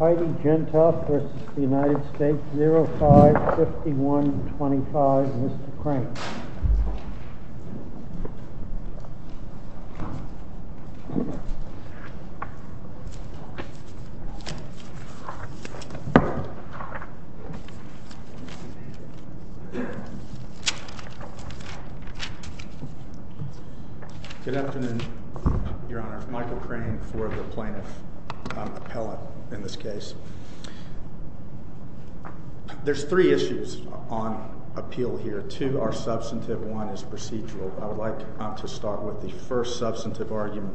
05-51-25 Mr. Crank Good afternoon, Your Honor. Michael Crank for the plaintiff appellate in this case. There's three issues on appeal here. Two are substantive, one is procedural. I would like to start with the first substantive argument.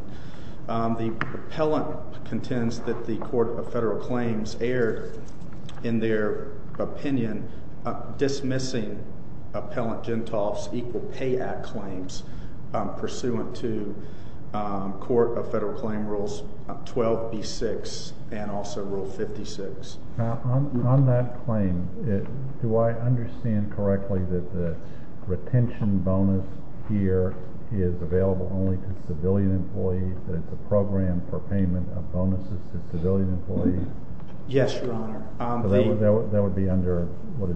The appellant contends that the Court of Federal Claims erred in their opinion dismissing Appellant JENTOFT's Equal Pay Act claims pursuant to Federal Claims Rule 12-B-6 and also Rule 56. On that claim, do I understand correctly that the retention bonus here is available only to civilian employees, that it's a program for payment of bonuses to civilian employees? Yes, Your Honor. So that would be under, what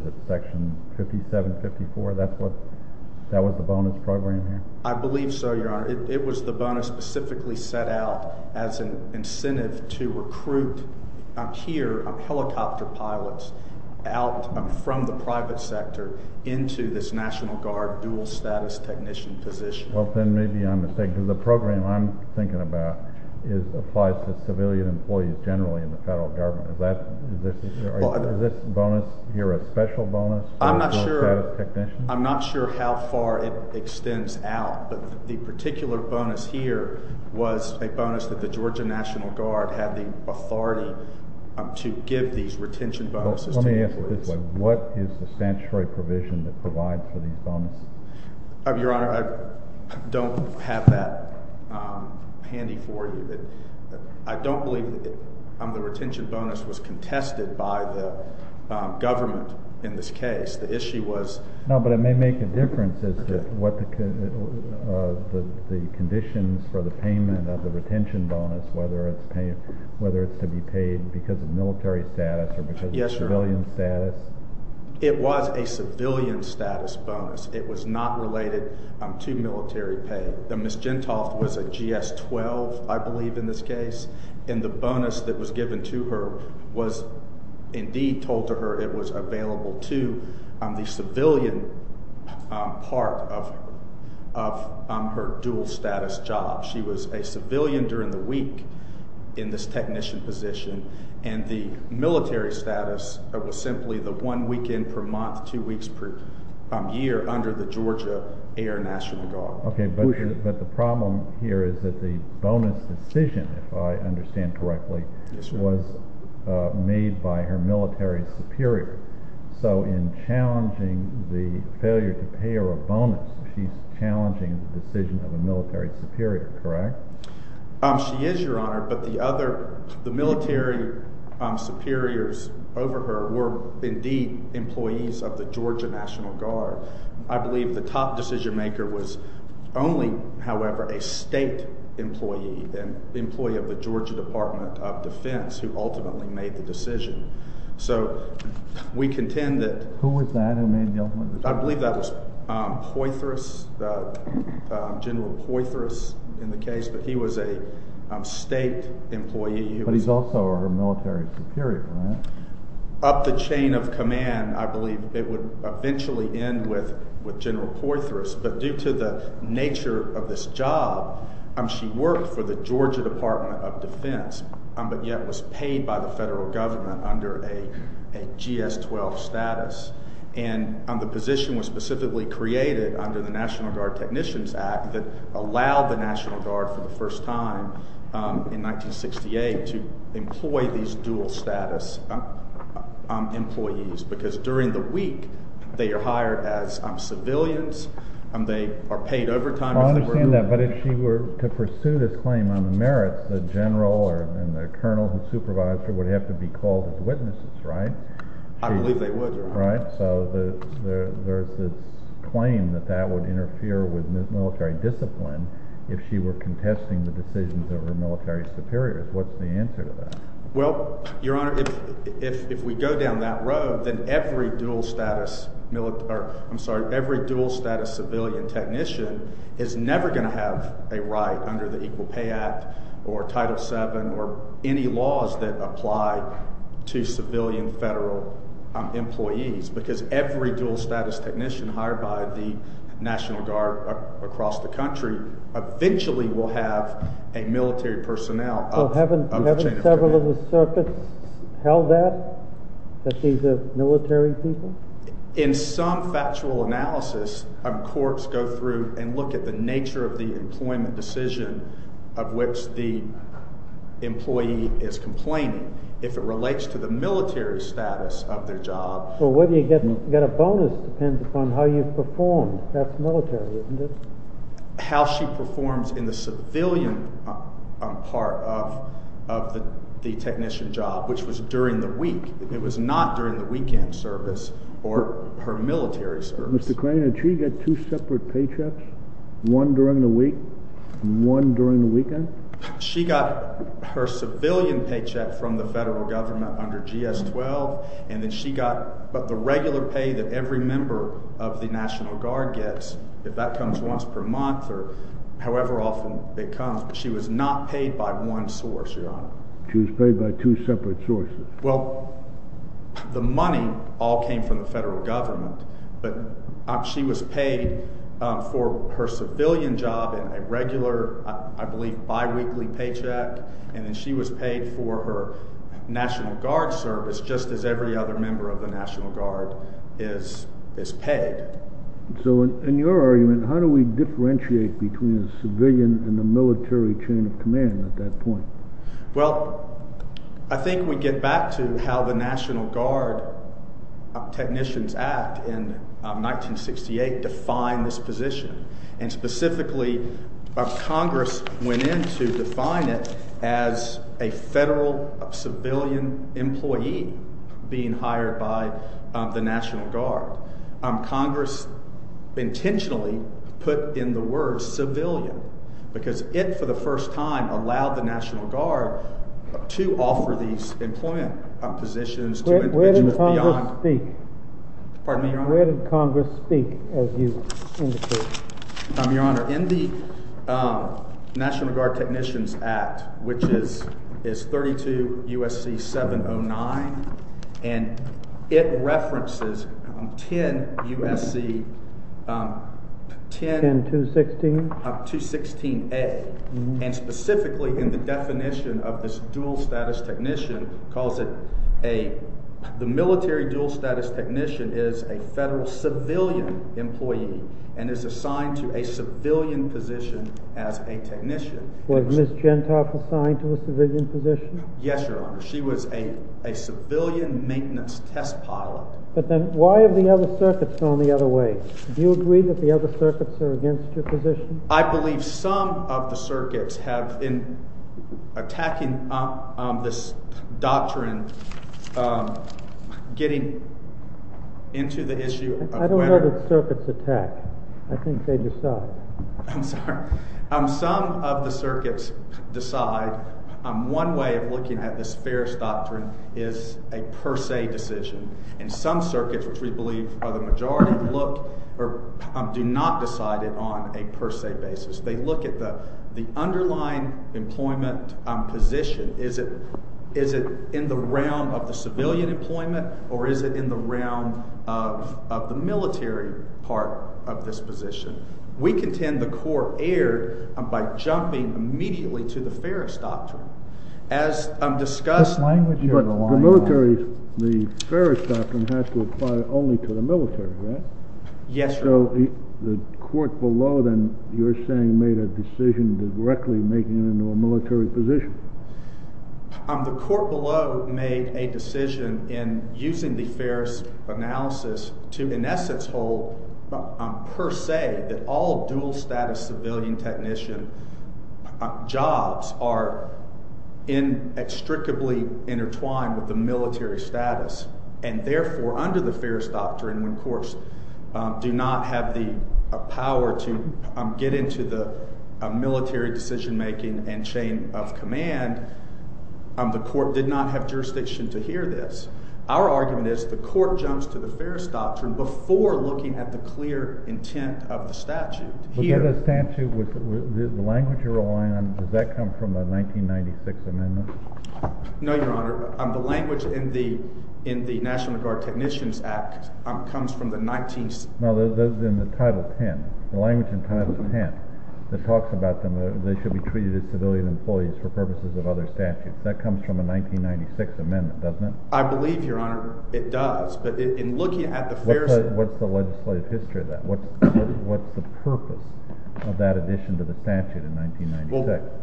specifically set out as an incentive to recruit here helicopter pilots out from the private sector into this National Guard dual-status technician position? Well, then maybe I'm mistaken. The program I'm thinking about applies to civilian employees generally in the Federal bonus here was a bonus that the Georgia National Guard had the authority to give these retention bonuses to employees. Let me ask you this way. What is the statutory provision that provides for these bonuses? Your Honor, I don't have that handy for you. I don't believe that the retention bonus was contested by the government in this case. The issue was No, but it may make a difference as to what the conditions for the payment of the retention bonus, whether it's to be paid because of military status or because of civilian status. It was a civilian status bonus. It was not related to military pay. Ms. JENTOFT was a GS-12, I believe in this case, and the bonus that was given to her was indeed told to her it was civilian part of her dual-status job. She was a civilian during the week in this technician position, and the military status was simply the one weekend per month, two weeks per year under the Georgia Air National Guard. Okay, but the problem here is that the bonus decision, if I understand correctly, was made by her military superior. So in challenging the failure to pay her a bonus, she's challenging the decision of a military superior, correct? She is, Your Honor, but the other, the military superiors over her were indeed employees of the Georgia National Guard. I believe the top decision maker was only, however, a state employee and the Georgia Department of Defense who ultimately made the decision. So we contend that... Who was that who made the ultimate decision? I believe that was Poythress, General Poythress in the case, but he was a state employee. But he's also her military superior, right? Up the chain of command, I believe it would eventually end with General Poythress, but due to the nature of this job, she worked for the Georgia Department of Defense, but yet was paid by the federal government under a GS-12 status. And the position was specifically created under the National Guard Technicians Act that allowed the National Guard for the first time in 1968 to employ these dual status employees because during the week, they are hired as civilians and they are paid overtime. I understand that, but if she were to pursue this claim on the merits, the general and the colonel who supervised her would have to be called as witnesses, right? I believe they would, Your Honor. Right, so there's this claim that that would interfere with military discipline if she were contesting the decisions of her military superiors. What's the answer to that? Well, Your Honor, if we go down that road, then every dual status civilian technician is never going to have a right under the Equal Pay Act or Title VII or any laws that apply to civilian federal employees because every dual status technician hired by the National Guard across the country eventually will have a military personnel. So haven't several of the circuits held that, that these are military people? In some factual analysis, courts go through and look at the nature of the employment decision of which the employee is complaining. If it relates to the military status of their job— So whether you get a bonus depends upon how you perform. That's military, isn't it? How she performs in the civilian part of the technician job, which was during the week. It was not during the weekend service or her military service. Mr. Crane, did she get two separate paychecks? One during the week and one during the weekend? She got her civilian paycheck from the federal government under GS-12, and then she got the regular pay that every member of the National Guard gets. If that comes once per month or however often it comes, she was not paid by one source, Your Honor. She was paid by two separate sources? Well, the money all came from the federal government, but she was paid for her civilian job and a regular, I believe, bi-weekly paycheck, and then she was paid for her National Guard service, just as every other member of the National Guard is paid. So in your argument, how do we differentiate between the civilian and the military chain of command at that point? Well, I think we get back to how the National Guard Technicians Act in 1968 defined this position, and specifically Congress went in to define it as a federal civilian employee being hired by the National Guard. Congress intentionally put in the words civilian because it, for the first time, allowed the National Guard to offer these employment positions to individuals beyond— Where did Congress speak? Pardon me, Your Honor? Where did Congress speak, as you indicated? Your Honor, in the National Guard Technicians Act, which is 32 U.S.C. 709, and it references 10 U.S.C., 10— 10216? 216A, and specifically in the definition of this dual-status technician, calls it a—the a civilian position as a technician. Was Ms. Gentoff assigned to a civilian position? Yes, Your Honor. She was a civilian maintenance test pilot. But then why have the other circuits gone the other way? Do you agree that the other circuits are against your position? I believe some of the circuits have been attacking this doctrine getting into the issue of whether— I'm sorry. Some of the circuits decide one way of looking at this Ferris doctrine is a per se decision, and some circuits, which we believe are the majority, look—or do not decide it on a per se basis. They look at the underlying employment position. Is it in the realm of the civilian employment, or is it in the realm of the military part of this position? We contend the court erred by jumping immediately to the Ferris doctrine. As discussed— What language are you relying on? But the military—the Ferris doctrine has to apply only to the military, right? Yes, Your Honor. So the court below, then, you're saying made a decision directly making it into a military position. The court below made a decision in using the Ferris analysis to, in essence, hold per se that all dual-status civilian technician jobs are inextricably intertwined with the military status, and therefore, under the Ferris doctrine, when courts do not have the power to get into the military decision-making and chain of command, the court did not have jurisdiction to hear this. Our argument is the court jumps to the Ferris doctrine before looking at the clear intent of the statute. But the statute, the language you're relying on, does that come from the 1996 Amendment? No, Your Honor. The language in the National Guard Technicians Act comes from the 19— No, those are in the Title X. The language in Title X that talks about them, they should be treated as civilian employees for purposes of other statutes. That comes from a 1996 Amendment, doesn't it? I believe, Your Honor, it does. But in looking at the Ferris— What's the legislative history of that? What's the purpose of that addition to the statute in 1996?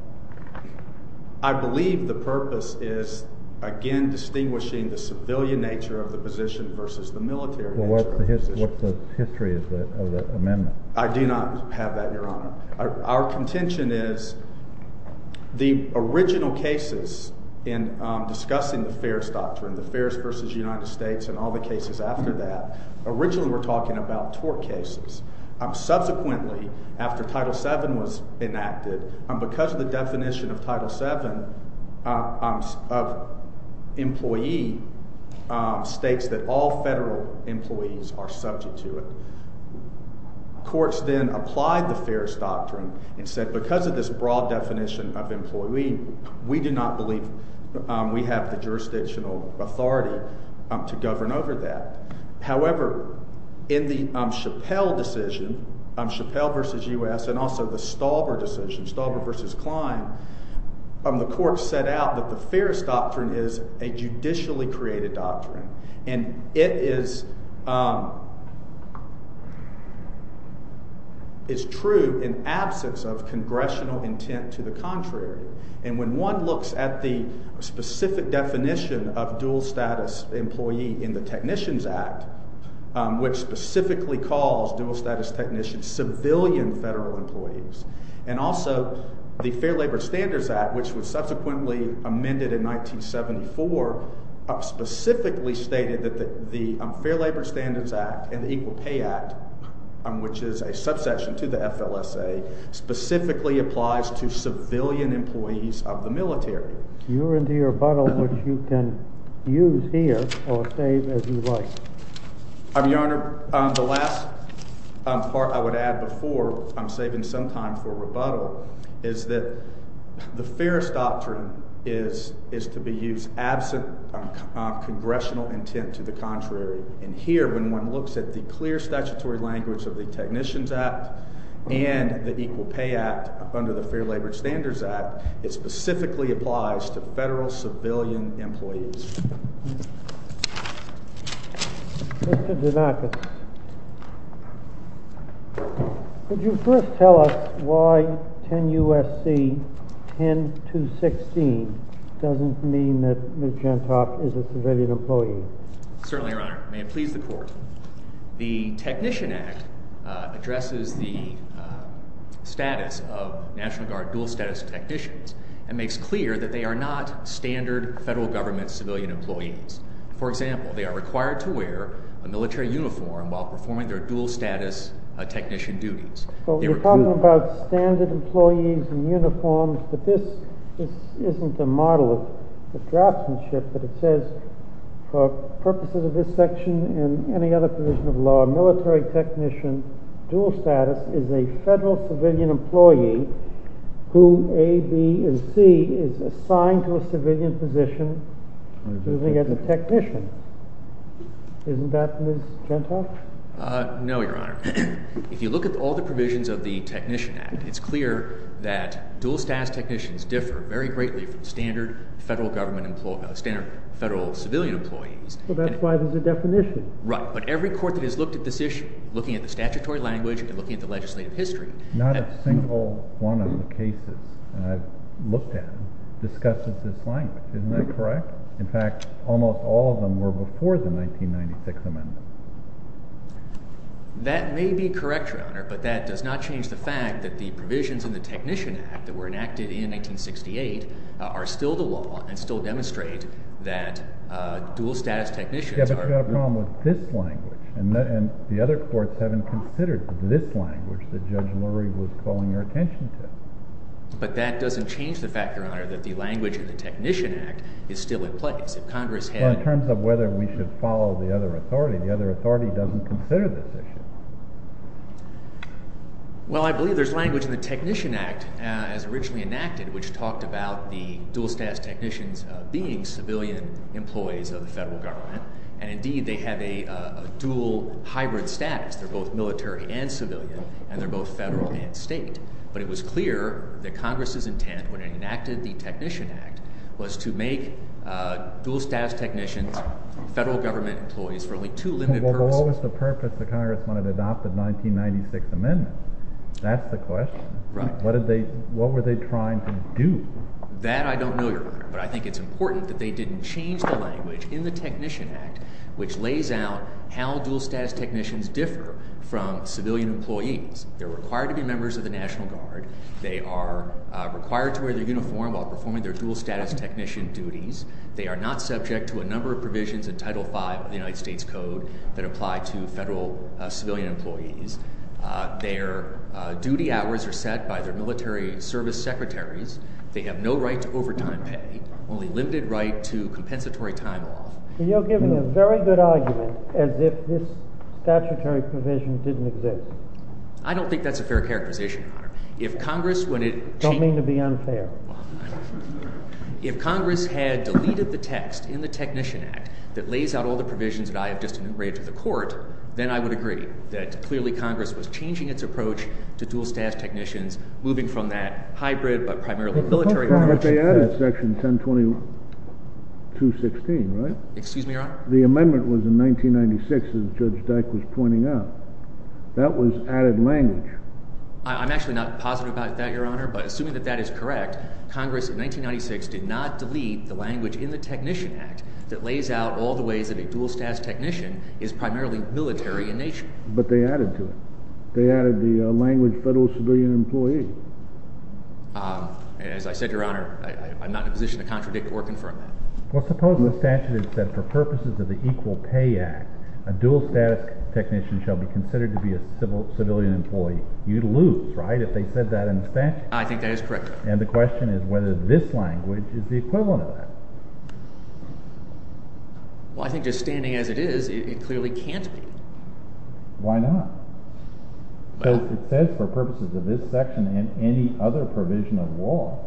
I believe the purpose is, again, distinguishing the civilian nature of the position versus the military nature of the position. What's the history of that amendment? I do not have that, Your Honor. Our contention is the original cases in discussing the Ferris doctrine, the Ferris v. United States, and all the cases after that, originally were talking about tort cases. Subsequently, after Title VII was enacted, because of the definition of Title VII, employee states that all federal employees are subject to it. Courts then applied the Ferris doctrine and said, because of this broad definition of employee, we do not believe we have the jurisdictional authority to govern over that. However, in the Chappelle decision, Chappelle v. U.S., and also the Stalber decision, Stalber v. Klein, the courts set out that the Ferris doctrine is a judicially created doctrine. And it is true in absence of congressional intent to the contrary. And when one looks at the specific definition of dual status employee in the Technicians Act, which specifically calls dual status technicians civilian federal employees, and also the Fair Labor Standards Act, which was subsequently amended in 1974, specifically stated that the Fair Labor Standards Act and the Equal Pay Act, which is a subsection to the FLSA, specifically applies to civilian employees of the military. You're in the rebuttal, which you can use here or save as you like. I'm your honor. The last part I would add before I'm saving some time for rebuttal is that the Ferris doctrine is to be used absent congressional intent to the contrary. And here, when one looks at the clear statutory language of the Technicians Act and the Equal Pay Act under the Fair Labor Standards Act, it specifically applies to federal civilian employees. Mr. DeNarcissis, could you first tell us why 10 U.S.C. 10216 doesn't mean that Ms. Gentok is a civilian employee? Certainly, your honor. May it please the court. The Technician Act addresses the status of National Guard dual status technicians and makes clear that they are not standard federal government civilian employees. For example, they are required to wear a military uniform while performing their dual status technician duties. You're talking about standard employees in uniforms, but this isn't a model of the draftsmanship, but it says for purposes of this section and any other provision of law, military technician dual status is a federal civilian employee who, A, B, and C, is assigned to a civilian position serving as a technician. Isn't that Ms. Gentok? No, your honor. If you look at all the provisions of the Technician Act, it's clear that dual status technicians differ very greatly from standard federal government employees, standard federal civilian employees. Well, that's why there's a definition. Right. But every court that has looked at this issue, looking at the statutory language and looking at the legislative history— Not a single one of the cases I've looked at discusses this language. Isn't that correct? In fact, almost all of them were before the 1996 amendment. That may be correct, your honor, but that does not change the fact that the provisions in the Technician Act that were enacted in 1968 are still the law and still demonstrate that dual status technicians are— Yeah, but you've got a problem with this language, and the other courts haven't considered this language that Judge Lurie was calling your attention to. But that doesn't change the fact, your honor, that the language in the Technician Act is still in place. If Congress had— Well, in terms of whether we should follow the other authority, the other authority doesn't consider this issue. Well, I believe there's language in the Technician Act, as originally enacted, and indeed, they have a dual hybrid status. They're both military and civilian, and they're both federal and state. But it was clear that Congress's intent, when it enacted the Technician Act, was to make dual status technicians federal government employees for only two limited— Well, what was the purpose the Congress wanted to adopt the 1996 amendment? That's the question. What were they trying to do? That I don't know, your honor, but I think it's important that they didn't change the Technician Act, which lays out how dual status technicians differ from civilian employees. They're required to be members of the National Guard. They are required to wear their uniform while performing their dual status technician duties. They are not subject to a number of provisions in Title V of the United States Code that apply to federal civilian employees. Their duty hours are set by their military service secretaries. They have no right to You're giving a very good argument as if this statutory provision didn't exist. I don't think that's a fair characterization, your honor. If Congress— I don't mean to be unfair. If Congress had deleted the text in the Technician Act that lays out all the provisions that I have just enumerated to the court, then I would agree that clearly Congress was changing its approach to dual status technicians, moving from that hybrid but primarily military— But that's not what they added in Section 1020-216, right? Excuse me, your honor? The amendment was in 1996, as Judge Dyck was pointing out. That was added language. I'm actually not positive about that, your honor, but assuming that that is correct, Congress in 1996 did not delete the language in the Technician Act that lays out all the ways that a dual status technician is primarily military in nature. But they added to it. They added the language federal civilian employee. As I said, your honor, I'm not in a position to contradict or confirm that. Well, suppose the statute had said, for purposes of the Equal Pay Act, a dual status technician shall be considered to be a civilian employee. You'd lose, right, if they said that in the statute? I think that is correct, your honor. And the question is whether this language is the equivalent of that. Well, I think just standing as it is, it clearly can't be. Why not? Well— It says, for purposes of this section and any other provision of law,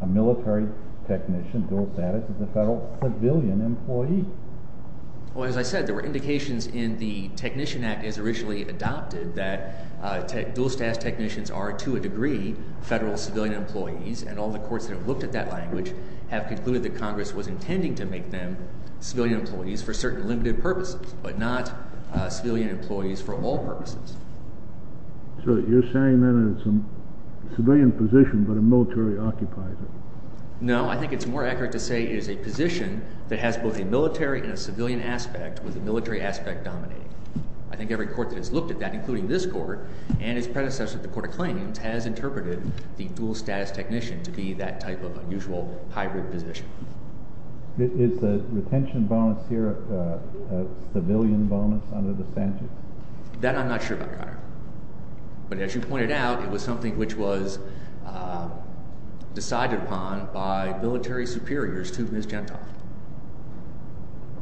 a military technician dual status is a federal civilian employee. Well, as I said, there were indications in the Technician Act as originally adopted that dual status technicians are, to a degree, federal civilian employees. And all the courts that have looked at that language have concluded that Congress was intending to make them civilian employees for certain limited purposes, but not civilian employees for all purposes. So you're saying then it's a civilian position, but a military occupier? No, I think it's more accurate to say it is a position that has both a military and a civilian aspect, with the military aspect dominating. I think every court that has looked at that, including this court and its predecessor, the Court of Claims, has interpreted the dual status technician to be that type of unusual hybrid position. Is the retention bonus here a civilian bonus under the statute? That I'm not sure about. But as you pointed out, it was something which was decided upon by military superiors to Ms. Gentile.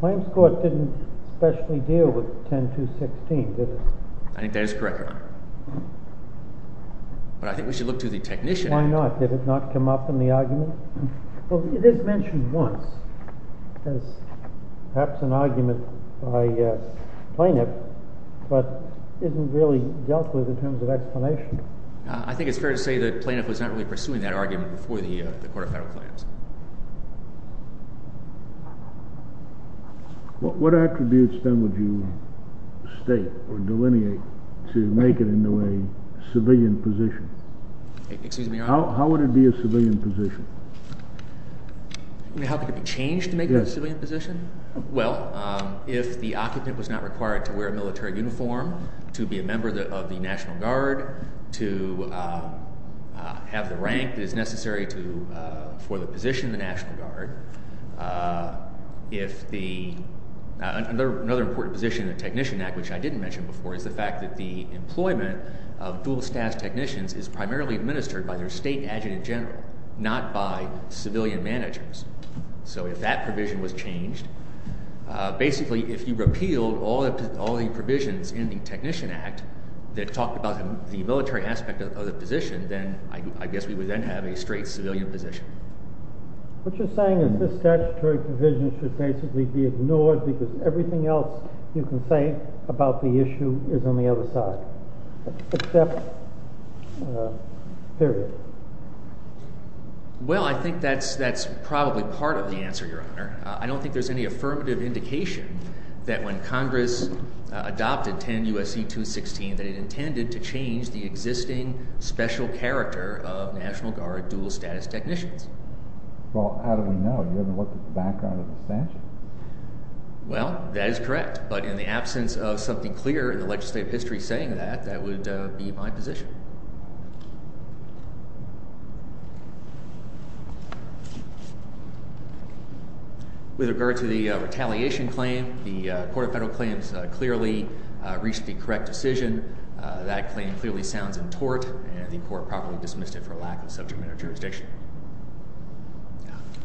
Claims Court didn't especially deal with 10216, did it? I think that is correct, Your Honor. But I think we should look to the Technician Act. Did it not come up in the argument? Well, it is mentioned once as perhaps an argument by Plaintiff, but isn't really dealt with in terms of explanation. I think it's fair to say that Plaintiff was not really pursuing that argument before the Court of Federal Claims. What attributes then would you state or delineate to make it into a civilian position? How would it be a civilian position? I mean, how could it be changed to make it a civilian position? Well, if the occupant was not required to wear a military uniform, to be a member of the National Guard, to have the rank that is necessary for the position of the National Guard. If the—another important position in the Technician Act, which I didn't mention before, is the fact that the employment of dual status technicians is primarily administered by their state adjutant general, not by civilian managers. So if that provision was changed, basically if you repealed all the provisions in the Technician Act that talk about the military aspect of the position, then I guess we would then have a straight civilian position. What you're saying is this statutory provision should basically be ignored because everything else you can say about the issue is on the other side, except theory. Well, I think that's probably part of the answer, Your Honor. I don't think there's any affirmative indication that when Congress adopted 10 U.S.C. 216 that it intended to change the existing special character of National Guard dual status technicians. Well, how do we know? You haven't looked at the background of the statute. Well, that is correct, but in the absence of something clear in the legislative history saying that, that would be my position. With regard to the retaliation claim, the Court of Federal Claims clearly reached the correct decision. That claim clearly sounds in tort and the court properly dismissed it for lack of subject matter jurisdiction.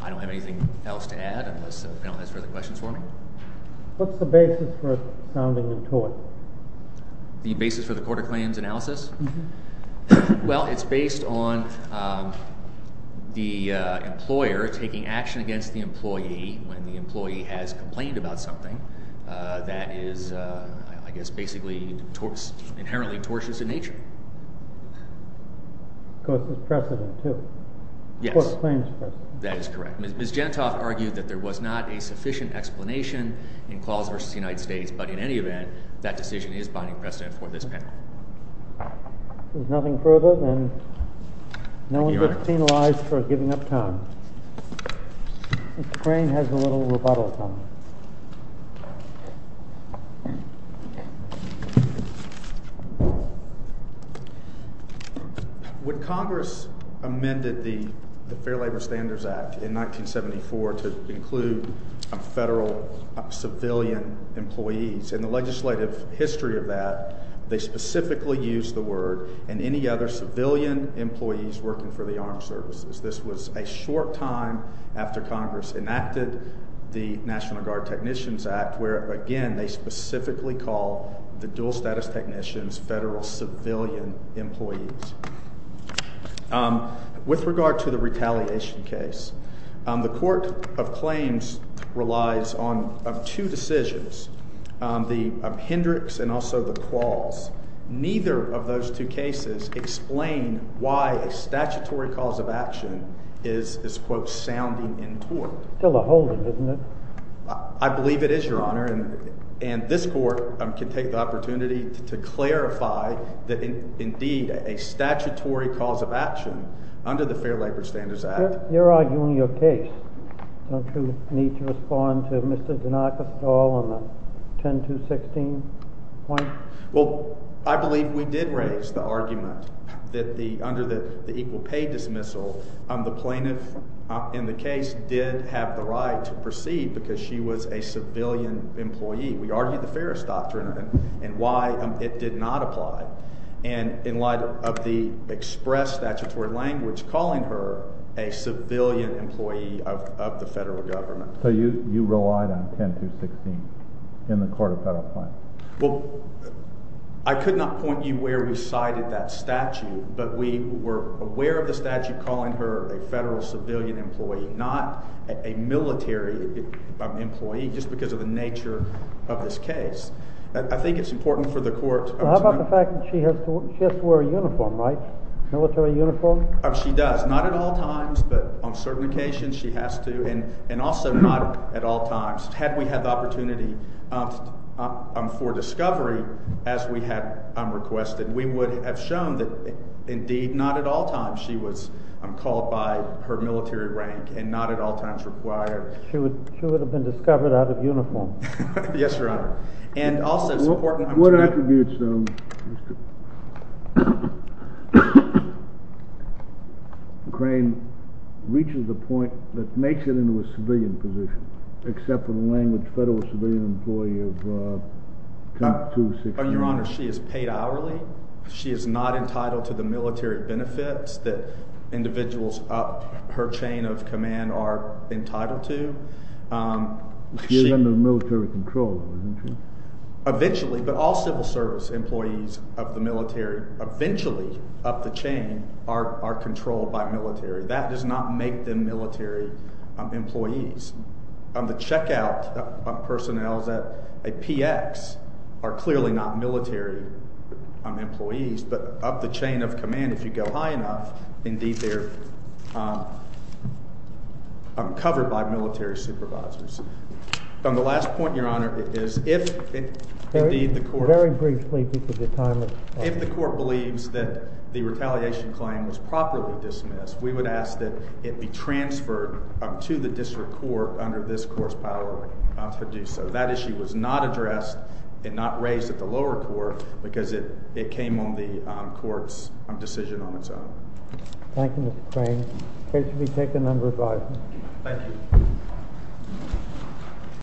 I don't have anything else to add unless the panel has further questions for me. What's the basis for it sounding in tort? The basis for the Court of Claims analysis? Well, it's based on the employer taking action against the employee when the employee has complained about something that is, I guess, basically inherently tortious in nature. Because it's precedent, too. Yes. The Court of Claims precedent. That is correct. Ms. Gentoff argued that there was not a sufficient explanation in Clause v. United States, but in any event, that decision is binding precedent for this panel. If there's nothing further, then no one gets penalized for giving up time. Mr. Crane has a little rebuttal time. When Congress amended the Fair Labor Standards Act in 1974 to include federal civilian employees in the legislative history of that, they specifically used the word and any other civilian employees working for the armed services. This was a short time after Congress enacted the National Guard Technicians Act, where again, they specifically call the dual status technicians federal civilian employees. With regard to the retaliation case, the Court of Claims relies on two decisions. The Hendricks and also the Clause. Neither of those two cases explain why a statutory cause of action is, quote, sounding in tort. Still a holdup, isn't it? I believe it is, Your Honor. And this court can take the opportunity to clarify that indeed a statutory cause of action under the Fair Labor Standards Act. You're arguing your case. Don't you need to respond to Mr. Denakis at all on the 10 to 16 point? Well, I believe we did raise the argument that under the equal pay dismissal, the plaintiff in the case did have the right to proceed because she was a civilian employee. We argued the Ferris Doctrine and why it did not apply. And in light of the express statutory language, calling her a civilian employee of the federal government. So you relied on 10 to 16 in the Court of Federal Claims? Well, I could not point you where we cited that statute, but we were aware of the statute calling her a federal civilian employee, not a military employee, just because of the nature of this case. I think it's important for the Court. How about the fact that she has to wear a uniform, right? Military uniform? She does. Not at all times, but on certain occasions she has to. And also not at all times. Had we had the opportunity for discovery as we had requested, we would have shown that indeed not at all times she was called by her military rank and not at all times required. She would have been discovered out of uniform. Yes, Your Honor. And also it's important. What attributes, though, Mr. Crane, reaches a point that makes it into a civilian position, except for the language federal civilian employee of 10 to 16? Your Honor, she is paid hourly. She is not entitled to the military benefits that individuals up her chain of command are entitled to. She is under military control, isn't she? Eventually, but all civil service employees of the military eventually up the chain are controlled by military. That does not make them military employees. The checkout personnel at a PX are clearly not military employees. But up the chain of command, if you go high enough, indeed they're covered by military supervisors. On the last point, Your Honor, is if the court believes that the retaliation claim was properly dismissed, we would ask that it be transferred to the district court under this court's power to do so. That issue was not addressed and not raised at the lower court because it came on the court's decision on its own. Thank you, Mr. Crane. The case will be taken under advisement. Thank you. Thank you.